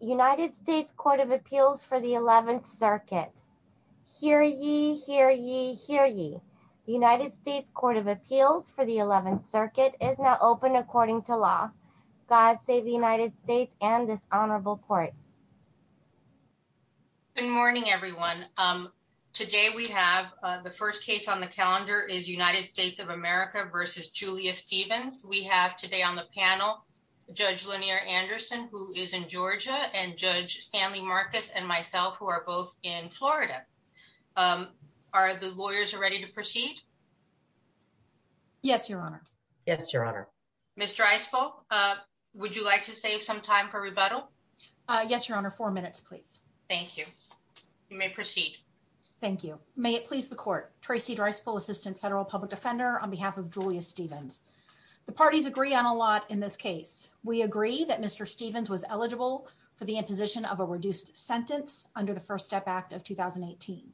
United States Court of Appeals for the 11th Circuit. Hear ye, hear ye, hear ye. United States Court of Appeals for the 11th Circuit is now open according to law. God save the United States and this honorable court. Good morning everyone. Today we have the first case on the calendar is United States of America v. Julius Stevens. We have today on the panel Judge Lanier Anderson who is in Georgia and Judge Stanley Marcus and myself who are both in Florida. Are the lawyers ready to proceed? Yes, your honor. Yes, your honor. Ms. Dreispel, would you like to save some time for rebuttal? Yes, your honor. Four minutes, please. Thank you. You may proceed. Thank you. May it please the court. Tracy Dreispel, Assistant Federal Public Defender, on behalf of Julius Stevens. The parties agree on a lot in this case. We agree that Mr. Stevens was eligible for the imposition of a reduced sentence under the First Step Act of 2018.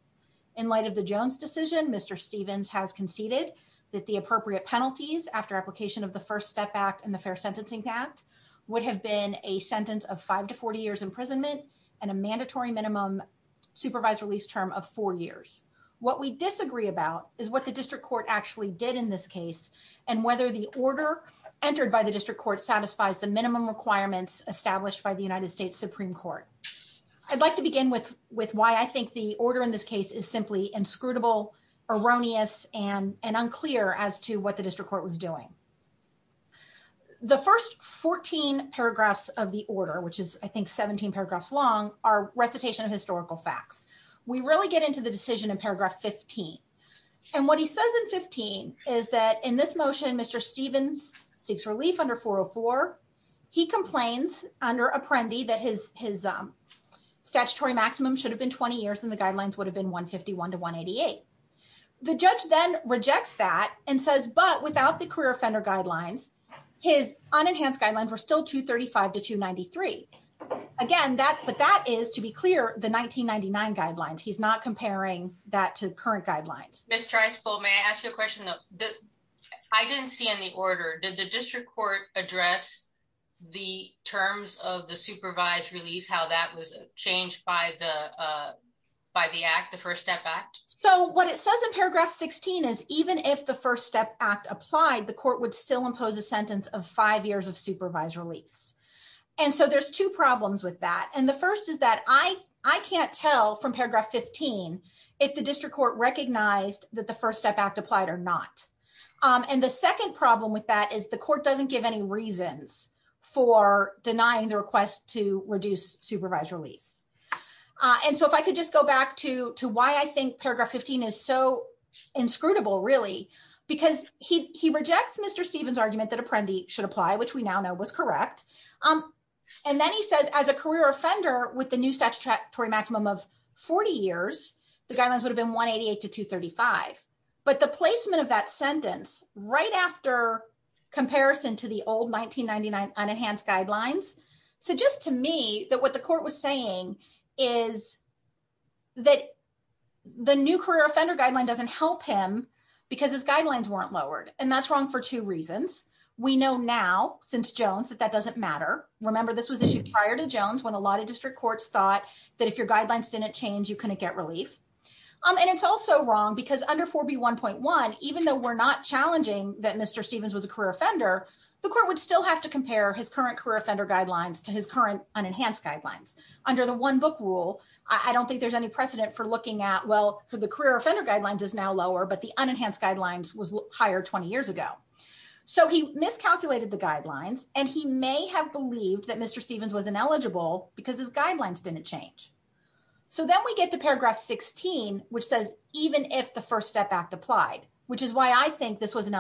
In light of the Jones decision, Mr. Stevens has conceded that the appropriate penalties after application of the First Step Act and the Fair Sentencing Act would have been a sentence of five to 40 years imprisonment and a mandatory minimum supervised release term of four years. What we disagree about is what the district court actually did in this case and whether the order entered by the district court satisfies the minimum requirements established by the United States Supreme Court. I'd like to begin with why I think the order in this case is simply inscrutable, erroneous, and unclear as to what the district court was doing. The first 14 paragraphs of the order, which is I think 17 paragraphs long, are recitation of historical facts. We really get into the decision in paragraph 15. And what he says in 15 is that in this motion, Mr. Stevens seeks relief under 404. He complains under Apprendi that his statutory maximum should have been 20 years and the guidelines would have been 151 to 188. The judge then rejects that and says, but without the career offender guidelines, his unenhanced guidelines were still 235 to 293. Again, but that is, to be clear, the 1999 guidelines. He's not comparing that to current guidelines. Ms. Treispo, may I ask you a question? I didn't see in the order, did the district court address the terms of the supervised release, how that was changed by the Act, the First Step Act? So what it says in paragraph 16 is even if the First Step Act applied, the court would still a sentence of five years of supervised release. And so there's two problems with that. And the first is that I can't tell from paragraph 15 if the district court recognized that the First Step Act applied or not. And the second problem with that is the court doesn't give any reasons for denying the request to reduce supervised release. And so if I could just go back to why I think paragraph 15 is so inscrutable, really, because he rejects Mr. Stevens argument that Apprendi should apply, which we now know was correct. And then he says as a career offender with the new statutory maximum of 40 years, the guidelines would have been 188 to 235. But the placement of that sentence right after comparison to the old 1999 unenhanced guidelines, suggests to me that what the court was saying is that the new career offender guideline doesn't help him because his guidelines weren't lowered. And that's wrong for two reasons. We know now since Jones that that doesn't matter. Remember, this was issued prior to Jones when a lot of district courts thought that if your guidelines didn't change, you couldn't get relief. And it's also wrong because under 4B1.1, even though we're not challenging that Mr. Stevens was a career offender, the court would still have to compare his current career offender guidelines to his current unenhanced guidelines. Under the one book rule, I don't think there's any precedent for looking at, well, for the career offender guidelines is now lower, but the unenhanced guidelines was higher 20 years ago. So he miscalculated the guidelines and he may have believed that Mr. Stevens was ineligible because his guidelines didn't change. So then we get to paragraph 16, which says even if the First Step Act applied, which is why I think this was an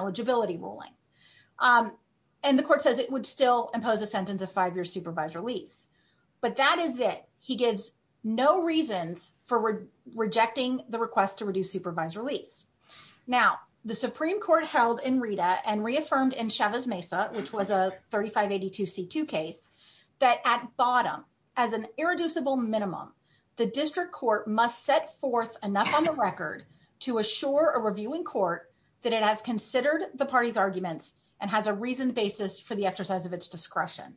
and the court says it would still impose a sentence of five-year supervised release, but that is it. He gives no reasons for rejecting the request to reduce supervised release. Now, the Supreme Court held in Rita and reaffirmed in Chavez Mesa, which was a 3582C2 case, that at bottom as an irreducible minimum, the district court must set forth enough on the record to assure a reviewing court that it has considered the party's arguments and has a reasoned basis for the exercise of its discretion.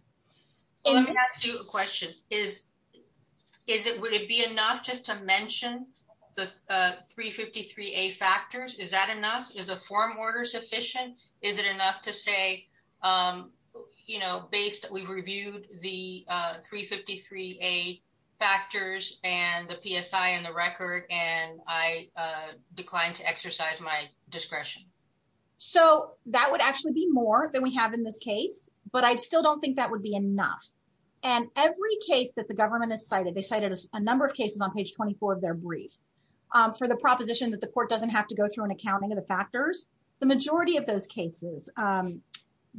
Let me ask you a question. Would it be enough just to mention the 353A factors? Is that enough? Is the form order sufficient? Is it enough to say, you know, based that we reviewed the 353A factors and the PSI and the decline to exercise my discretion? So that would actually be more than we have in this case, but I still don't think that would be enough. And every case that the government has cited, they cited a number of cases on page 24 of their brief for the proposition that the court doesn't have to go through an accounting of the factors. The majority of those cases,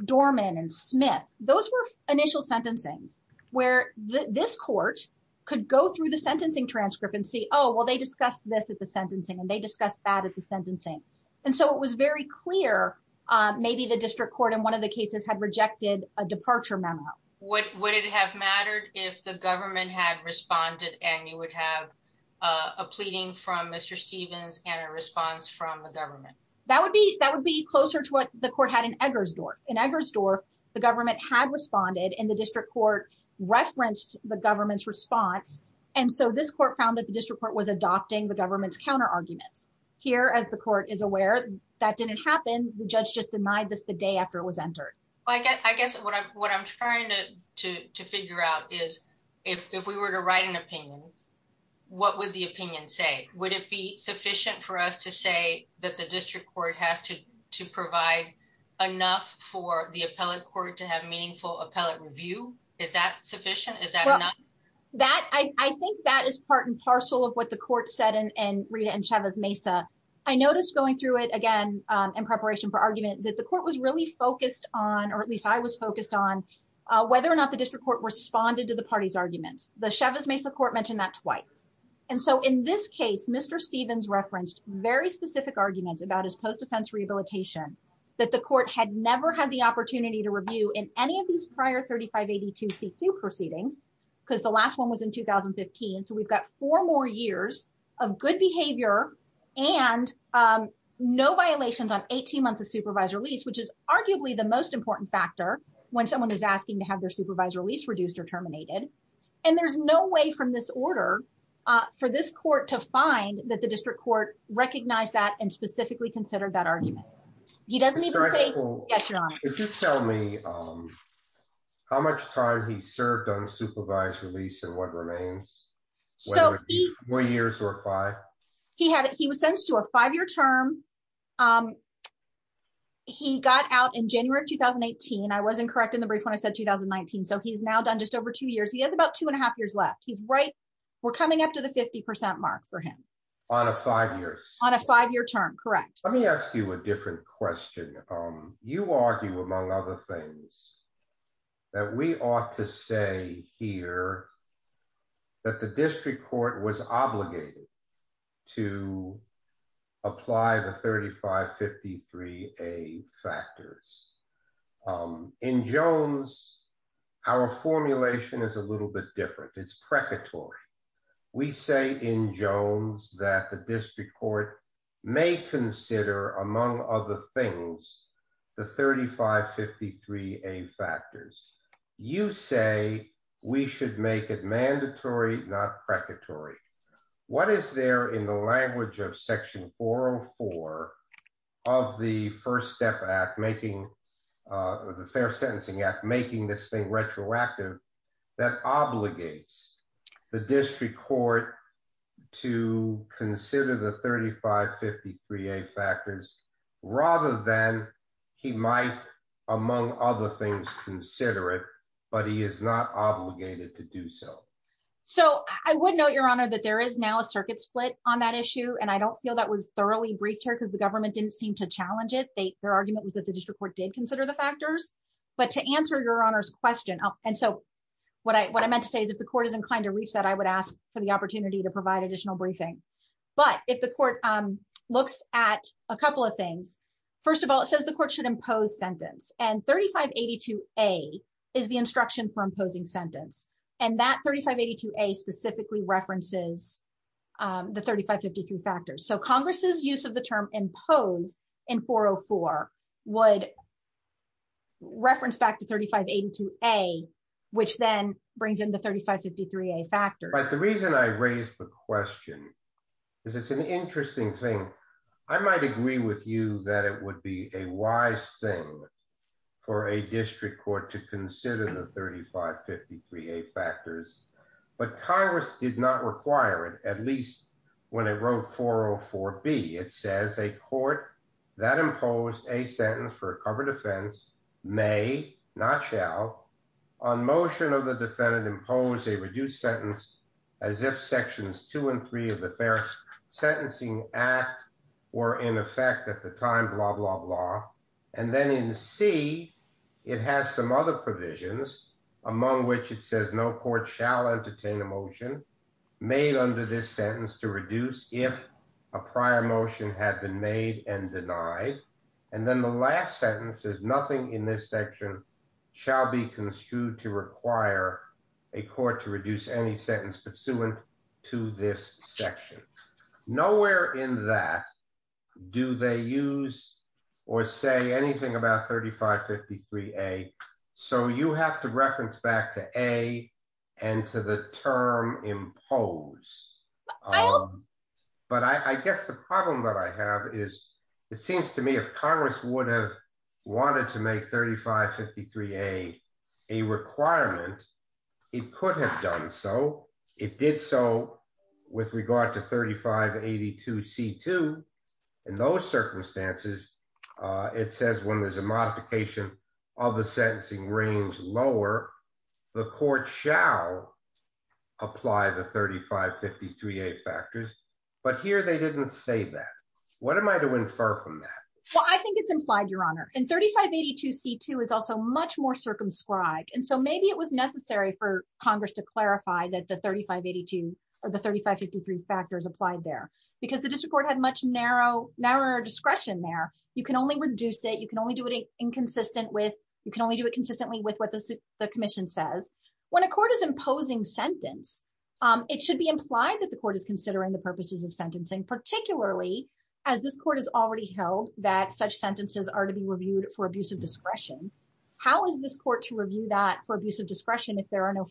Dorman and Smith, those were initial sentencings where this court could go through the sentencing transcript and oh, well, they discussed this at the sentencing and they discussed that at the sentencing. And so it was very clear maybe the district court in one of the cases had rejected a departure memo. Would it have mattered if the government had responded and you would have a pleading from Mr. Stevens and a response from the government? That would be closer to what the court had in Eggersdorf. In Eggersdorf, the government had responded and the district court referenced the government's response. And so this court found that the district court was adopting the government's counterarguments. Here, as the court is aware, that didn't happen. The judge just denied this the day after it was entered. I guess what I'm trying to figure out is if we were to write an opinion, what would the opinion say? Would it be sufficient for us to say that the district court has to provide enough for the appellate court to have meaningful appellate review? Is that sufficient? Is that enough? I think that is part and parcel of what the court said in Rita and Chavez-Mesa. I noticed going through it again in preparation for argument that the court was really focused on, or at least I was focused on, whether or not the district court responded to the party's arguments. The Chavez-Mesa court mentioned that twice. And so in this case, Mr. Stevens referenced very specific arguments about his post-defense rehabilitation that the C-2 proceedings, because the last one was in 2015. So we've got four more years of good behavior and no violations on 18 months of supervisor lease, which is arguably the most important factor when someone is asking to have their supervisor lease reduced or terminated. And there's no way from this order for this court to find that the district court recognized that and specifically considered that argument. He doesn't even say, yes, Your Honor. Could you tell me how much time he served on supervised release and what remains? Four years or five? He was sentenced to a five-year term. He got out in January of 2018. I wasn't correct in the brief when I said 2019. So he's now done just over two years. He has about two and a half years left. We're coming up to the 50% mark for him. On a five years? On a five-year term, correct. Let me ask you a different question. You argue, among other things, that we ought to say here that the district court was obligated to apply the 3553A factors. In Jones, our formulation is a little bit different. It's in Jones that the district court may consider, among other things, the 3553A factors. You say we should make it mandatory, not precatory. What is there in the language of section 404 of the First Step Act, the Fair Sentencing Act, making this thing retroactive that obligates the district court to consider the 3553A factors rather than he might, among other things, consider it, but he is not obligated to do so? I would note, Your Honor, that there is now a circuit split on that issue. I don't feel that was thoroughly briefed here because the government didn't seem to challenge it. Their argument was that the district court did consider the factors. To answer Your Honor's question, what I meant to say is if the court is inclined to reach that, I would ask for the opportunity to provide additional briefing. If the court looks at a couple of things, first of all, it says the court should impose sentence. 3582A is the instruction for imposing sentence. That 3582A specifically references the 3553 factors. Congress's use of the term impose in 404 would reference back to 3582A, which then brings in the 3553A factors. The reason I raised the question is it's an interesting thing. I might agree with you that it would be a wise thing for a district court to consider the 3553A factors, but Congress did not require it, at least when it wrote 404B. It says a court that imposed a sentence for a covered offense may, not shall, on motion of the defendant impose a reduced sentence as if sections two and three of the Fair Sentencing Act were in effect at the time, blah, blah, blah. Then in C, it has some other provisions among which it says no court shall entertain a motion made under this sentence to reduce if a prior motion had been made and denied. And then the last sentence says nothing in this section shall be construed to require a court to reduce any sentence pursuant to this section. Nowhere in that do they use or say anything about 3553A. So you have to reference back to A and to the term impose. But I guess the problem that I have is it seems to me if Congress would have wanted to make 3553A a requirement, it could have done so. It did so with regard to 3582C2. In those circumstances, it says when there's a modification of the sentencing range lower, the court shall apply the 3553A factors. But here they didn't say that. What am I to infer from that? Well, I think it's implied, Your Honor. And 3582C2 is also much more circumscribed. And so maybe it was necessary for Congress to clarify that the 3582 or the 3553 factors applied there because the district court had much narrower discretion there. You can only reduce it. You can only do it inconsistently with what the commission says. When a court is imposing sentence, it should be implied that the court is considering the purposes of sentencing, particularly as this court has already held that such sentences are to be reviewed for abuse of discretion. How is this court to review that for abuse of discretion if there are no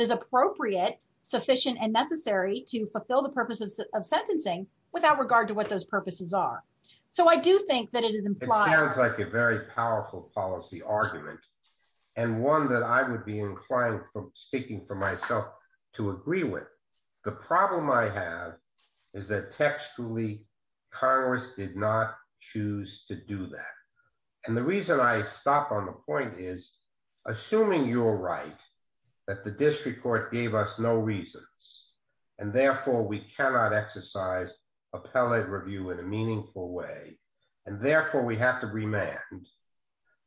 is appropriate, sufficient, and necessary to fulfill the purpose of sentencing without regard to what those purposes are? So I do think that it is implied. It sounds like a very powerful policy argument, and one that I would be inclined from speaking for myself to agree with. The problem I have is that textually, Congress did not choose to do that. And the reason I stop on point is, assuming you're right, that the district court gave us no reasons. And therefore, we cannot exercise appellate review in a meaningful way. And therefore, we have to remand.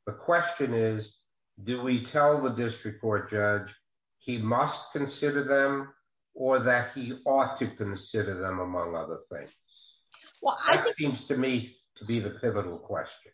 The question is, do we tell the district court judge, he must consider them, or that he ought to consider them among other things? Well, I think to me to be the pivotal question.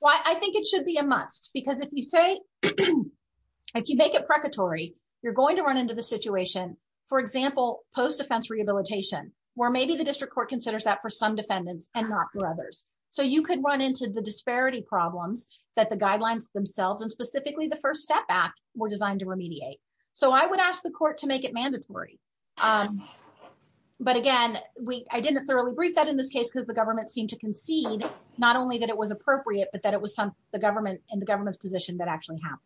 Well, I think it should be a must. Because if you say, if you make it precatory, you're going to run into the situation, for example, post-defense rehabilitation, where maybe the district court considers that for some defendants and not for others. So you could run into the disparity problems that the guidelines themselves, and specifically the First Step Act, were designed to remediate. So I would ask the court to make it mandatory. But again, I didn't thoroughly brief that in this case, because the government seemed to concede, not only that it was appropriate, but that it was the government and the government's position that actually happened.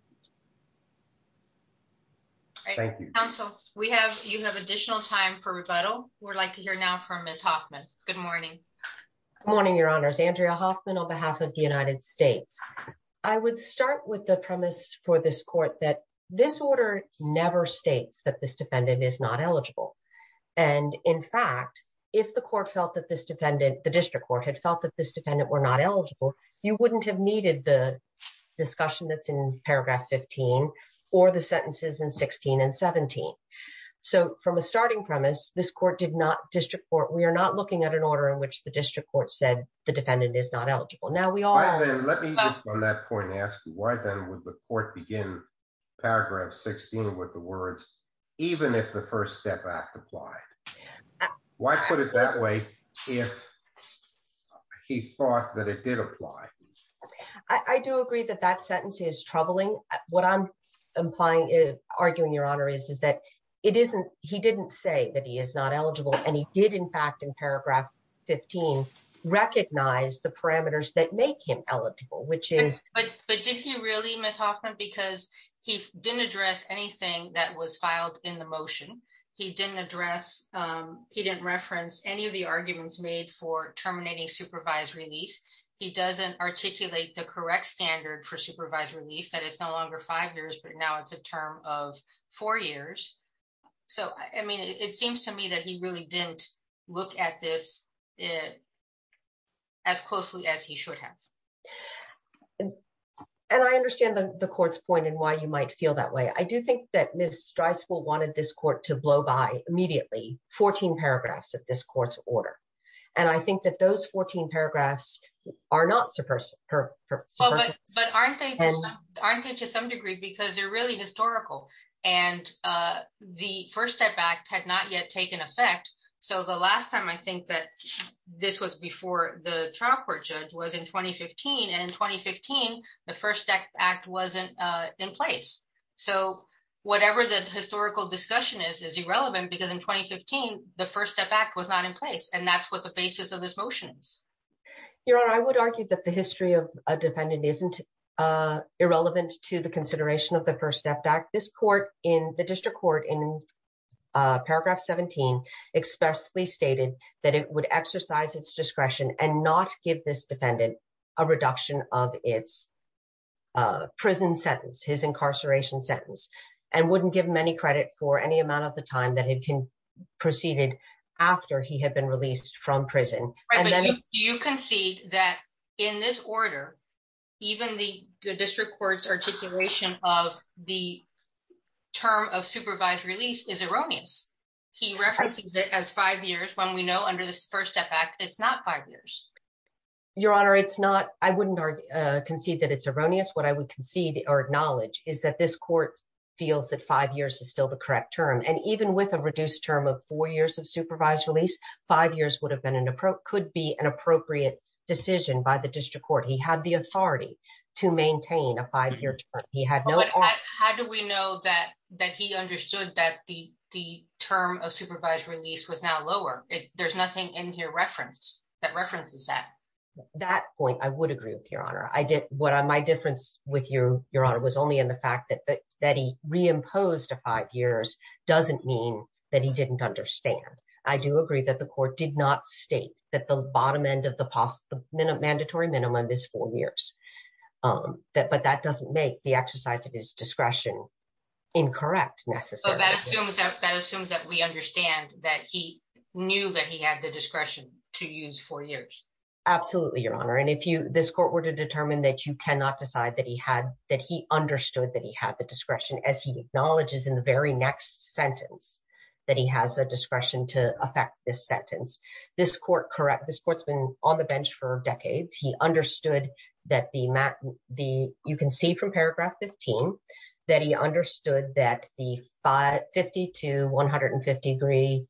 Thank you, counsel. We have you have additional time for rebuttal. We'd like to hear now from Ms. Hoffman. Good morning. Morning, Your Honors, Andrea Hoffman, on behalf of the United States. I would start with the premise for this court that this order never states that this defendant is not eligible. And in fact, if the court felt that this defendant, the district court had felt that this defendant were not eligible, you wouldn't have needed the discussion that's in paragraph 15, or the sentences in 16 and 17. So from a starting premise, this court did not, district court, we are not looking at an order in which the district court said the defendant is not eligible. Now we all... Let me just on that point ask you, why then would the court begin paragraph 16 with the words, even if the first step act applied? Why put it that way, if he thought that it did apply? I do agree that that sentence is troubling. What I'm implying, arguing, Your Honor, is that it isn't, he didn't say that he is not eligible. And he did in fact, in paragraph 15, recognize the parameters that make him eligible, which is... But did he really, because he didn't address anything that was filed in the motion. He didn't address, he didn't reference any of the arguments made for terminating supervised release. He doesn't articulate the correct standard for supervised release, that it's no longer five years, but now it's a term of four years. So, I mean, it seems to me that he really didn't look at this as closely as he should have. And I understand the court's point and why you might feel that way. I do think that Ms. Strysvill wanted this court to blow by immediately, 14 paragraphs of this court's order. And I think that those 14 paragraphs are not... But aren't they to some degree, because they're really historical. And the first step act had not yet taken effect. So the last time I think that this was before the trial court judge was in 2015. And in 2015, the first step act wasn't in place. So whatever the historical discussion is, is irrelevant, because in 2015, the first step act was not in place. And that's what the basis of this motion is. Your Honor, I would argue that the history of a defendant isn't irrelevant to the consideration of the first step act. This court in the district court in paragraph 17, expressly stated that it would exercise its discretion and not give this defendant a reduction of its prison sentence, his incarceration sentence, and wouldn't give many credit for any amount of the time that it can proceeded after he had been released from prison. Right, but you concede that in this order, even the district court's articulation of the term of supervised release is erroneous. He referenced it as five years when we know under this first step act, it's not five years. Your Honor, it's not I wouldn't concede that it's erroneous. What I would concede or acknowledge is that this court feels that five years is still the correct term. And even with a reduced term of four years of supervised release, five years would have been an appropriate could be an appropriate decision by the district court. He had the authority to maintain a five year term. How do we know that that he understood that the term of supervised release was now lower? There's nothing in your reference that references that. That point, I would agree with Your Honor. I did what my difference with you, Your Honor, was only in the fact that that he reimposed a five years doesn't mean that he didn't understand. I do agree that the court did not state that the exercise of his discretion incorrect. So that assumes that that assumes that we understand that he knew that he had the discretion to use four years. Absolutely, Your Honor. And if you this court were to determine that you cannot decide that he had that he understood that he had the discretion as he acknowledges in the very next sentence that he has a discretion to affect this sentence. This court correct this court's been on the bench for decades. He understood that the the you can see from paragraph fifteen that he understood that the five fifty to one hundred and fifty three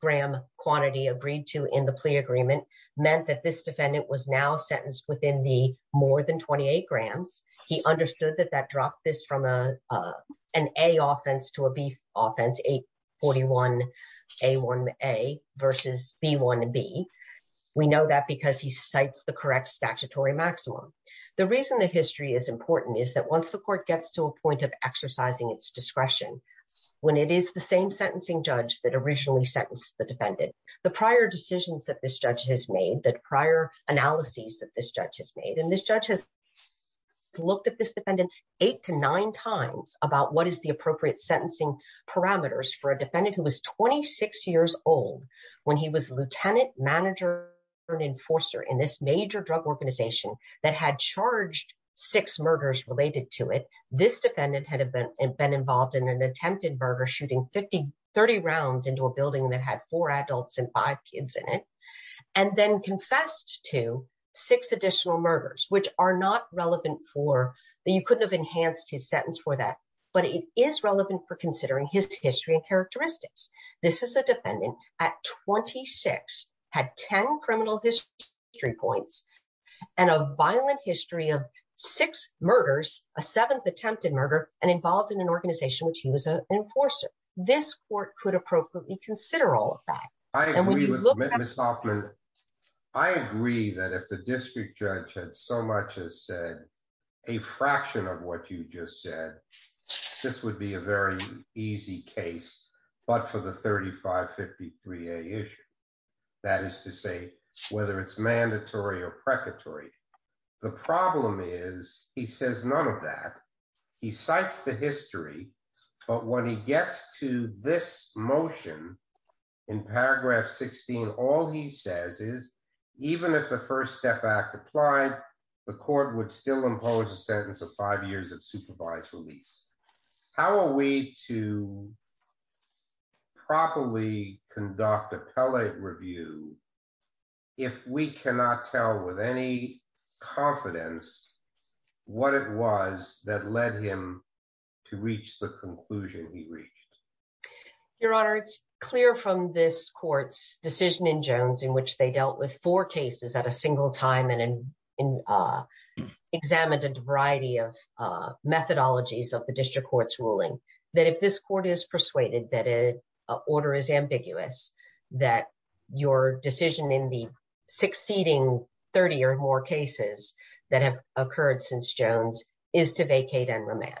gram quantity agreed to in the plea agreement meant that this defendant was now sentenced within the more than twenty eight grams. He understood that that dropped this from an A offense to a B offense. Eight forty one a one a versus B one B. We know that because he cites the correct statutory maximum. The reason that history is important is that once the court gets to a point of exercising its discretion, when it is the same sentencing judge that originally sentenced the defendant, the prior decisions that this judge has made, that prior analyses that this judge has made and this judge has looked at this defendant eight to nine times about what is the appropriate sentencing parameters for a defendant who was twenty six years old when he was lieutenant manager and enforcer in this major drug organization that had charged six murders related to it. This defendant had been involved in an attempted murder, shooting fifty thirty rounds into a building that had four adults and five kids in it and then confessed to six additional murders, which are not relevant for that. You couldn't have enhanced his sentence for that, but it is relevant for considering his history and this is a defendant at twenty six had ten criminal history points and a violent history of six murders, a seventh attempted murder and involved in an organization which he was an enforcer. This court could appropriately consider all of that. I agree with Miss Hoffman. I agree that if the district judge had so much as said a fraction of what you just said, this would be a very easy case, but for the thirty five fifty three issue, that is to say whether it's mandatory or precatory. The problem is he says none of that. He cites the history, but when he gets to this motion in paragraph sixteen, all he says is even if the first step applied, the court would still impose a sentence of five years of supervised release. How are we to properly conduct a review if we cannot tell with any confidence what it was that led him to reach the conclusion he reached? Your Honor, it's clear from this court's decision in Jones which they dealt with four cases at a single time and examined a variety of methodologies of the district court's ruling that if this court is persuaded that an order is ambiguous, that your decision in the succeeding thirty or more cases that have occurred since Jones is to vacate and remand.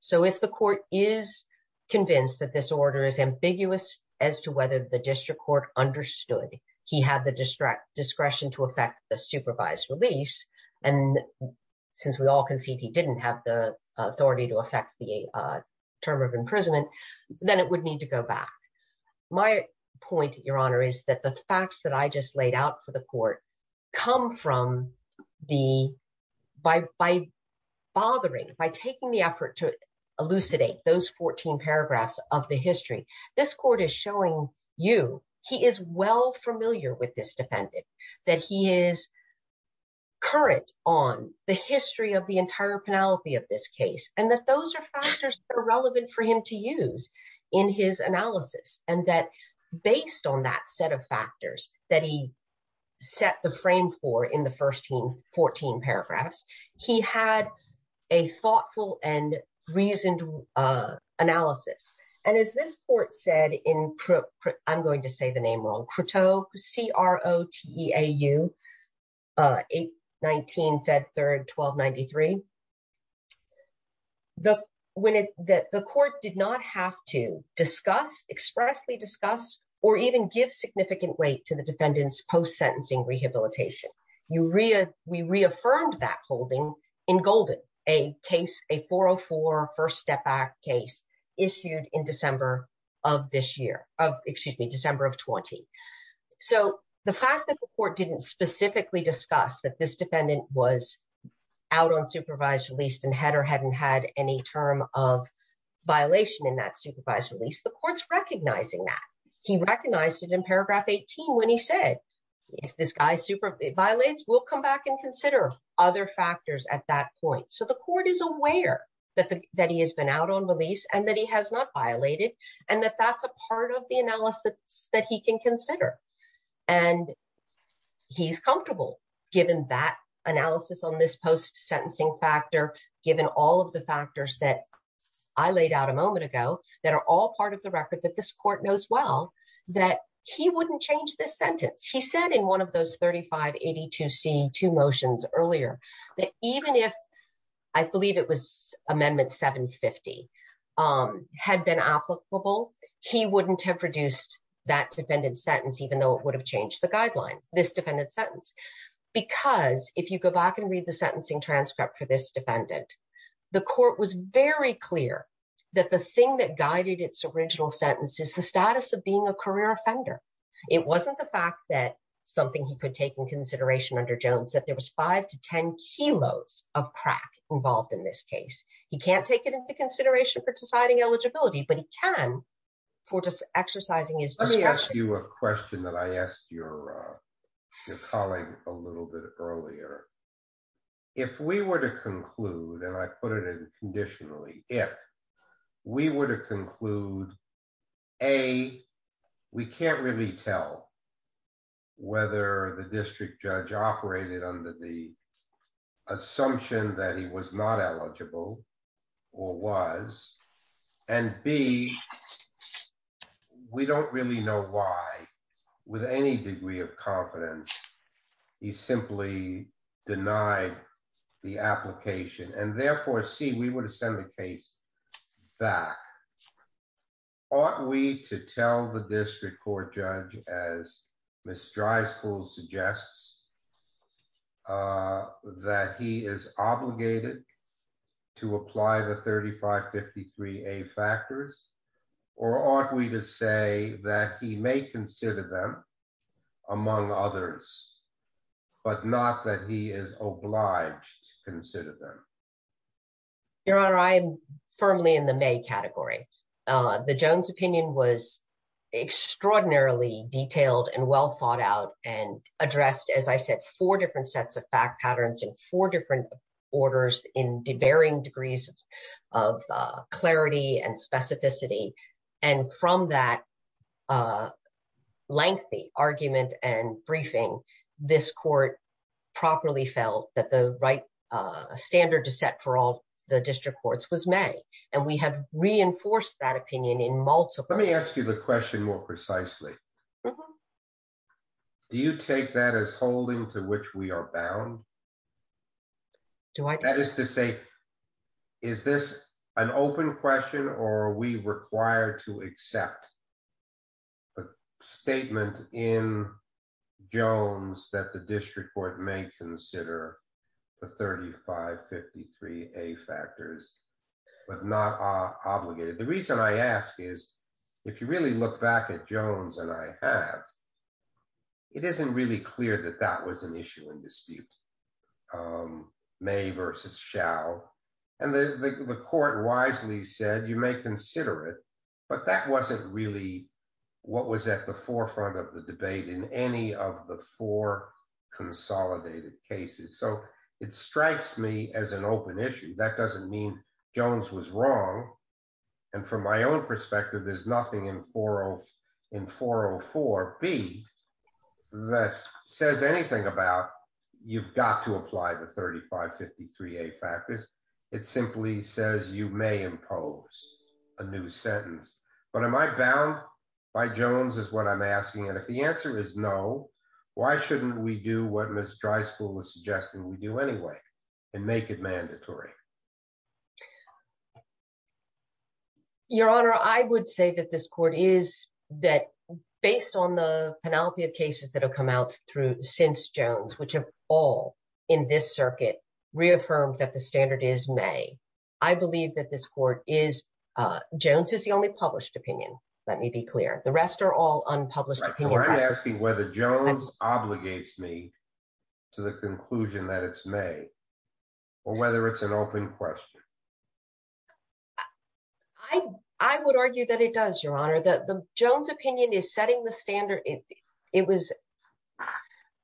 So if the court is convinced that this order is ambiguous as to whether the district court understood he had the discretion to affect the supervised release, and since we all concede he didn't have the authority to affect the term of imprisonment, then it would need to go back. My point, your Honor, is that the facts that I just laid out for the court come from the, by bothering, by taking the effort to elucidate those fourteen paragraphs of the history. This he is well familiar with this defendant, that he is current on the history of the entire penalty of this case, and that those are factors that are relevant for him to use in his analysis, and that based on that set of factors that he set the frame for in the first 14 paragraphs, he had a thoughtful and reasoned analysis. And as this court said in, I'm going to say the name wrong, Croteau, C-R-O-T-E-A-U, 819 Fed Third 1293, the court did not have to discuss, expressly discuss, or even give significant weight to the defendant's post-sentencing rehabilitation. You, we reaffirmed that holding in Golden, a case, a 404 first step back case issued in December of this year, of excuse me, December of 20. So the fact that the court didn't specifically discuss that this defendant was out on supervised release and had or hadn't had any term of violation in that supervised release, the court's recognizing that. He recognized it in paragraph 18 when he said, if this guy violates, we'll come back and consider other factors at that point. So the court is aware that he has been out on release and that he has not violated, and that that's a part of the analysis that he can consider. And he's comfortable given that analysis on this post-sentencing factor, given all of the factors that I laid out a moment ago, that are all part of the record that this court knows well, that he wouldn't change this sentence. He said in one of those 3582C2 motions earlier, that even if I believe it was amendment 750 had been applicable, he wouldn't have produced that defendant's sentence, even though it would have changed the guidelines, this defendant's sentence. Because if you go back and read the original sentence, it's the status of being a career offender. It wasn't the fact that something he could take in consideration under Jones, that there was five to 10 kilos of crack involved in this case. He can't take it into consideration for deciding eligibility, but he can for just exercising his discretion. Let me ask you a question that I asked your colleague a little bit earlier. If we were to conclude, and I put it in conditionally, if we were to conclude, A, we can't really tell whether the district judge operated under the assumption that he was not eligible or was, and B, we don't really know why, with any degree of confidence, he simply denied the application. And therefore, C, we would have sent the case back. Ought we to tell the district court judge, as Ms. Drysdale suggests, that he is them among others, but not that he is obliged to consider them? Your Honor, I am firmly in the may category. The Jones opinion was extraordinarily detailed and well thought out and addressed, as I said, four different sets of fact patterns in four different orders in varying degrees of clarity and specificity. And from that lengthy argument and briefing, this court properly felt that the right standard to set for all the district courts was made. And we have reinforced that opinion in multiple. Let me ask you the question more precisely. Do you take that as holding to which we are bound? That is to say, is this an open question or are we required to accept a statement in Jones that the district court may consider the 3553A factors, but not obligated? The reason I ask is, if you really look back at Jones and I have, it isn't really clear that that was an issue in versus shall. And the court wisely said, you may consider it, but that wasn't really what was at the forefront of the debate in any of the four consolidated cases. So it strikes me as an open issue. That doesn't mean Jones was wrong. And from my own perspective, there's nothing in 404B that says anything about, you've got to apply the 3553A factors. It simply says you may impose a new sentence, but am I bound by Jones is what I'm asking. And if the answer is no, why shouldn't we do what Ms. Dryspool was suggesting we do anyway and make it mandatory? Your Honor, I would say that this court is that based on the penalty of cases that have come out since Jones, which have all in this circuit reaffirmed that the standard is may. I believe that this court is, Jones is the only published opinion. Let me be clear. The rest are all unpublished opinions. I'm asking whether Jones obligates me to the conclusion that it's may, or whether it's an open question. I would argue that it does, Your Honor. Jones opinion is setting the standard. It was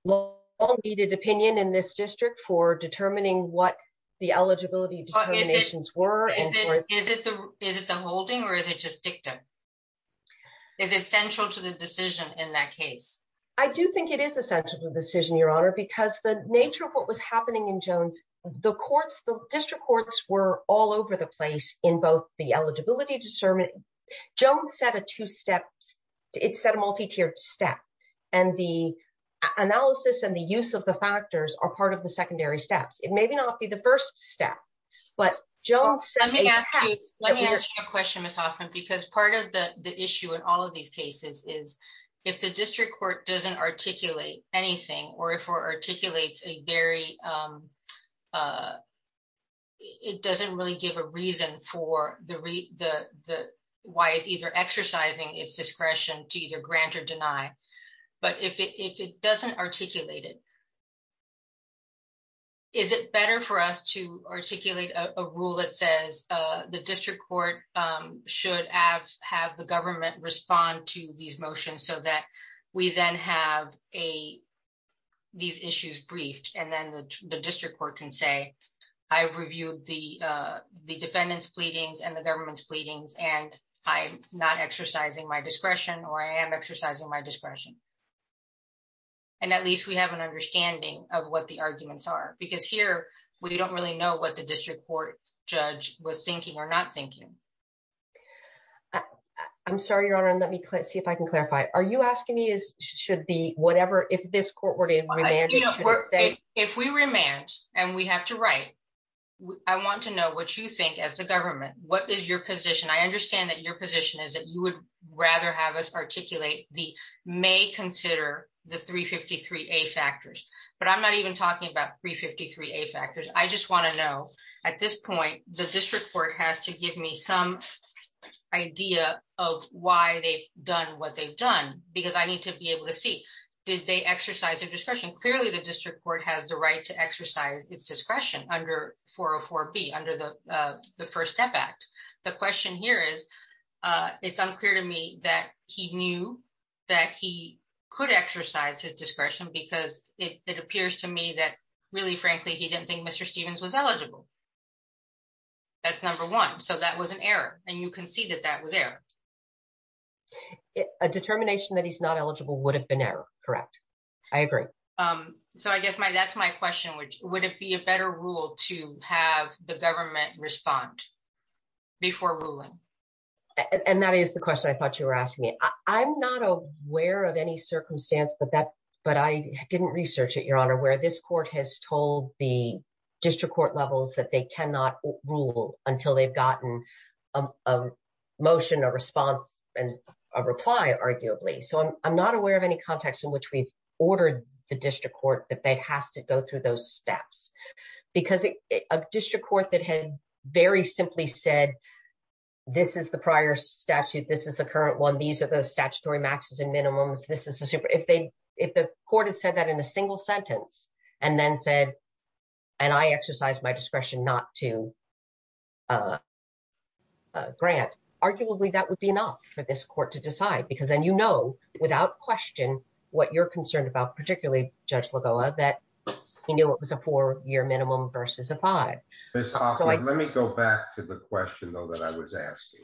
long needed opinion in this district for determining what the eligibility determinations were. Is it the holding or is it just dictum? Is it central to the decision in that case? I do think it is essential to the decision, Your Honor, because the nature of what was happening in Jones, the courts, the district discernment, Jones set a two-step, it set a multi-tiered step. The analysis and the use of the factors are part of the secondary steps. It may not be the first step, but Jones- Let me ask you a question, Ms. Hoffman, because part of the issue in all of these cases is if the district court doesn't articulate anything or if it articulates a very, it doesn't really give a reason for why it's either exercising its discretion to either grant or deny, but if it doesn't articulate it, is it better for us to articulate a rule that says the district court should have the government respond to these motions so that we then have a, these issues briefed and then the district court can say, I've reviewed the defendant's pleadings and the government's pleadings, and I'm not exercising my discretion or I am exercising my discretion. And at least we have an understanding of what the arguments are, because here we don't really know what the district court judge was thinking or not thinking. I'm sorry, Your Honor, and let me see if I can clarify. Are you asking me is, should the, whatever, if this court were to remand- You know, if we remand and we have to write, I want to know what you think as the government, what is your position? I understand that your position is that you would rather have us articulate the may consider the 353A factors, but I'm not even talking about 353A factors. I just want to know at this point, the district court has to give me some idea of why they've done what they've done, because I need to be able to see, did they exercise their discretion? Clearly the district court has the right to exercise its discretion under 404B, under the First Step Act. The question here is, it's unclear to me that he knew that he could exercise his discretion because it appears to me that really, frankly, he didn't think Mr. Stevens was eligible. That's number one. So that was an error. And you can see that that was error. A determination that he's not eligible would have been error, correct? I agree. So I guess that's my question, which would it be a better rule to have the government respond before ruling? And that is the question I thought you were asking me. I'm not aware of any circumstance, but I didn't research it, Your Honor, where this court has told the district levels that they cannot rule until they've gotten a motion, a response, and a reply, arguably. So I'm not aware of any context in which we've ordered the district court that they'd have to go through those steps. Because a district court that had very simply said, this is the prior statute, this is the current one, these are the statutory maxes and minimums, if the court had said that in a single sentence and then said, and I exercise my discretion not to grant, arguably, that would be enough for this court to decide. Because then you know, without question, what you're concerned about, particularly Judge Lagoa, that he knew it was a four-year minimum versus a five. Ms. Hoffman, let me go back to the question, though, that I was asking.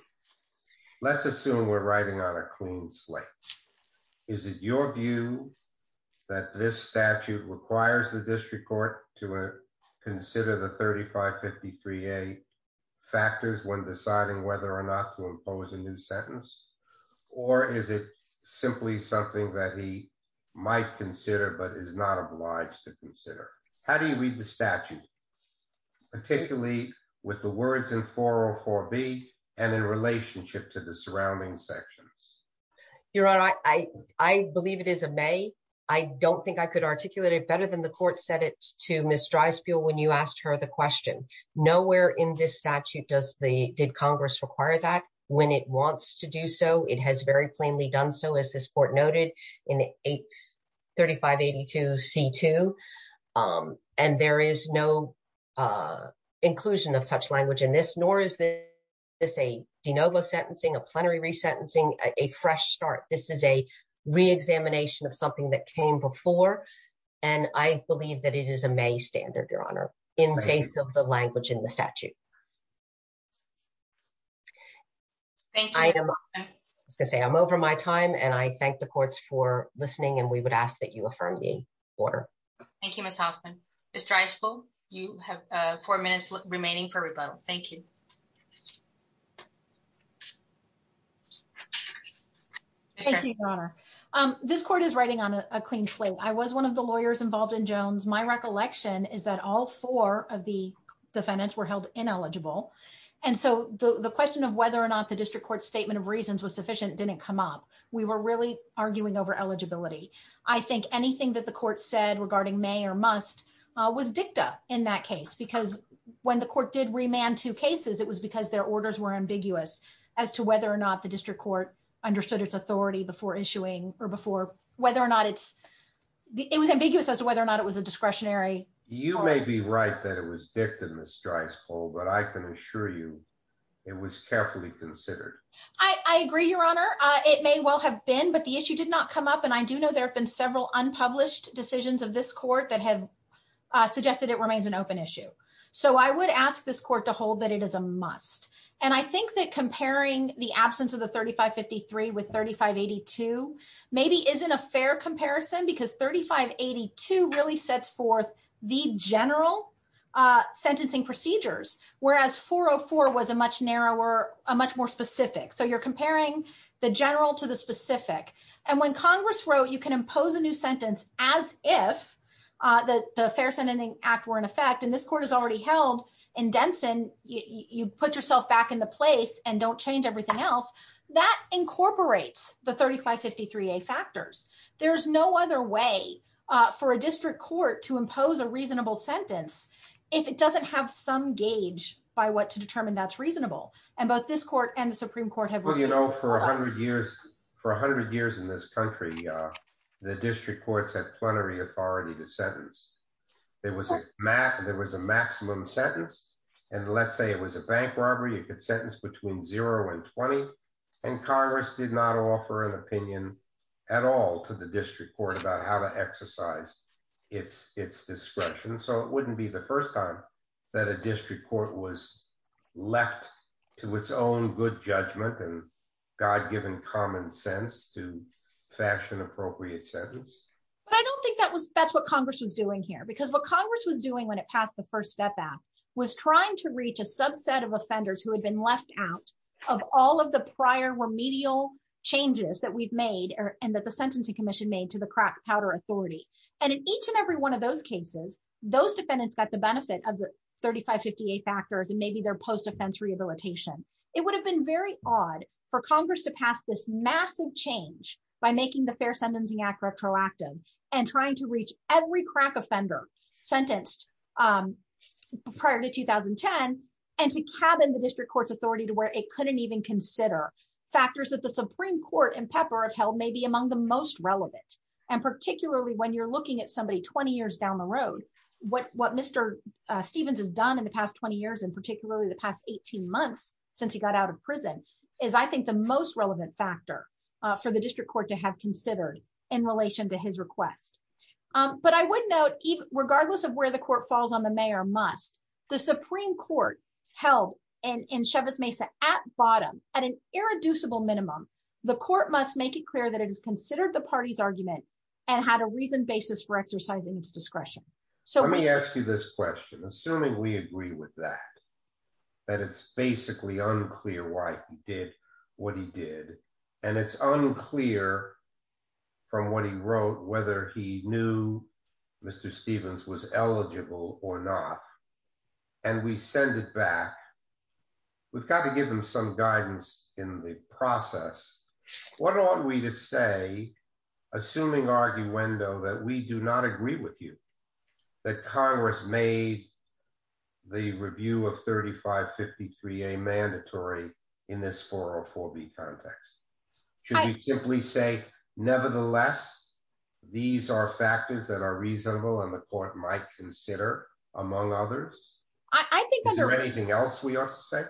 Let's assume we're writing on a clean slate. Is it your view that this statute requires the district court to consider the 3553A factors when deciding whether or not to impose a new sentence? Or is it simply something that he might consider but is not obliged to consider? How do we read the statute, particularly with the words in 404B and in relationship to the surrounding sections? Your Honor, I believe it is a may. I don't think I could articulate it better than the court said it to Ms. Dreisbuehl when you asked her the question. Nowhere in this statute did Congress require that. When it wants to do so, it has very plainly done so, as this court noted in 3582C2. And there is no inclusion of such language in this, nor is this a de novo sentencing, a plenary resentencing, a fresh start. This is a re-examination of something that came before. And I believe that it is a may standard, Your Honor, in face of the language in the statute. Thank you, Ms. Hoffman. I was going to say, I'm over my time. And I thank the courts for listening. And we would ask that you affirm the order. Thank you, Ms. Hoffman. Ms. Dreisbuehl, you have four minutes remaining for rebuttal. Thank you. Thank you, Your Honor. This court is riding on a clean slate. I was one of the lawyers involved in Jones. My recollection is that all four of the defendants were held in a clean slate. And so the question of whether or not the district court's statement of reasons was sufficient didn't come up. We were really arguing over eligibility. I think anything that the court said regarding may or must was dicta in that case. Because when the court did remand two cases, it was because their orders were ambiguous as to whether or not the district court understood its authority before issuing or before, whether or not it's, it was ambiguous as to whether or not it was a discretionary. You may be right that it was dicta, Ms. Dreisbuehl, but I can assure you it was carefully considered. I agree, Your Honor. It may well have been, but the issue did not come up. And I do know there have been several unpublished decisions of this court that have suggested it remains an open issue. So I would ask this court to hold that it is a must. And I think that comparing the absence of the 3553 with 3582 maybe isn't a fair comparison because 3582 really sets forth the general sentencing procedures, whereas 404 was a much narrower, a much more specific. So you're comparing the general to the specific. And when Congress wrote you can impose a new sentence as if the Fair Sentencing Act were in effect, and this court is already held in Denson, you put yourself back in the place and don't change everything else. That incorporates the 3553A factors. There's no other way for a district court to impose a reasonable sentence if it doesn't have some gauge by what to determine that's reasonable. And both this court and the Supreme Court have- Well, you know, for a hundred years, for a hundred years in this country, the district courts have plenary authority to sentence. There was a maximum sentence. And let's say it was a bank robbery, it could sentence between zero and 20. And Congress did not offer an opinion at all to the district court about how to exercise its discretion. So it wouldn't be the first time that a district court was left to its own good judgment and God-given common sense to fashion appropriate sentence. But I don't think that's what Congress was doing here. Because what Congress was doing when it was trying to reach a subset of offenders who had been left out of all of the prior remedial changes that we've made and that the Sentencing Commission made to the crack powder authority. And in each and every one of those cases, those defendants got the benefit of the 3558 factors and maybe their post-offense rehabilitation. It would have been very odd for Congress to pass this massive change by making the Fair Sentencing Act retroactive and trying to reach every crack offender sentenced prior to 2010, and to cabin the district court's authority to where it couldn't even consider factors that the Supreme Court and Pepper have held may be among the most relevant. And particularly when you're looking at somebody 20 years down the road, what Mr. Stevens has done in the past 20 years, and particularly the past 18 months, since he got out of prison, is I think the most relevant factor for the district court to have request. But I would note, regardless of where the court falls on the mayor must, the Supreme Court held in Chavez Mesa at bottom, at an irreducible minimum, the court must make it clear that it is considered the party's argument and had a reason basis for exercising its discretion. So let me ask you this question, assuming we agree with that, that it's basically unclear why he did what he did. And it's unclear from what he wrote, whether he knew Mr. Stevens was eligible or not. And we send it back. We've got to give them some guidance in the process. What are we to say, assuming arguendo that we do not agree with you, that Congress made the review of 3553 a mandatory in this 404 B context, should we simply say, nevertheless, these are factors that are reasonable and the court might consider among others. I think anything else we have to say,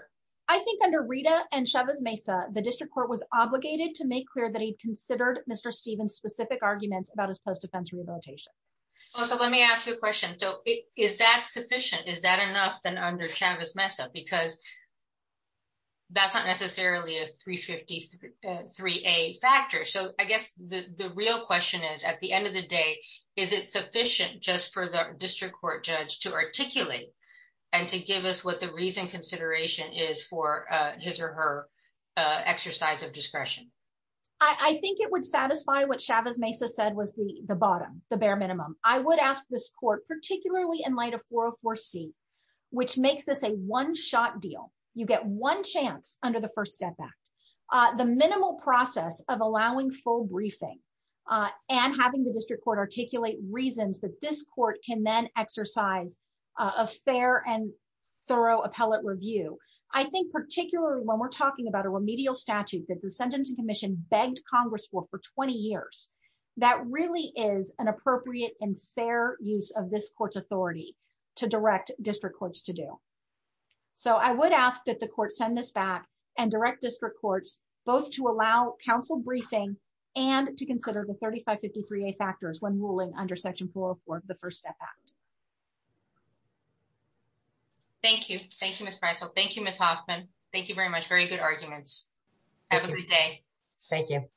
I think under Rita and Chavez Mesa, the district court was obligated to make clear that he'd considered Mr. Stevens specific arguments about his post defense rehabilitation. Also, let me ask you a question. So is that sufficient? Is that enough than under Chavez Mesa? Because that's not necessarily a 353 a factor. So I guess the real question is, at the end of the day, is it sufficient just for the district court judge to articulate and to give us what the reason consideration is for his or her exercise of discretion? I think it would satisfy what Chavez Mesa said was the the bottom, the bare minimum, I would ask this court, particularly in light of 404 C, which makes this a one shot deal, you get one chance under the First Step Act, the minimal process of allowing full briefing, and having the district court articulate reasons that this court can then exercise a fair and thorough appellate review. I think particularly when we're talking about a remedial statute that the Sentencing Commission begged Congress for for 20 years, that really is an appropriate and fair use of this court's authority to direct district courts to do. So I would ask that the court send this back and direct district courts both to allow counsel briefing, and to consider the 3553 a factors when ruling under Section 404, the First Step Act. Thank you. Thank you, thank you, Miss Hoffman. Thank you very much. Very good arguments. Have a good day. Thank you.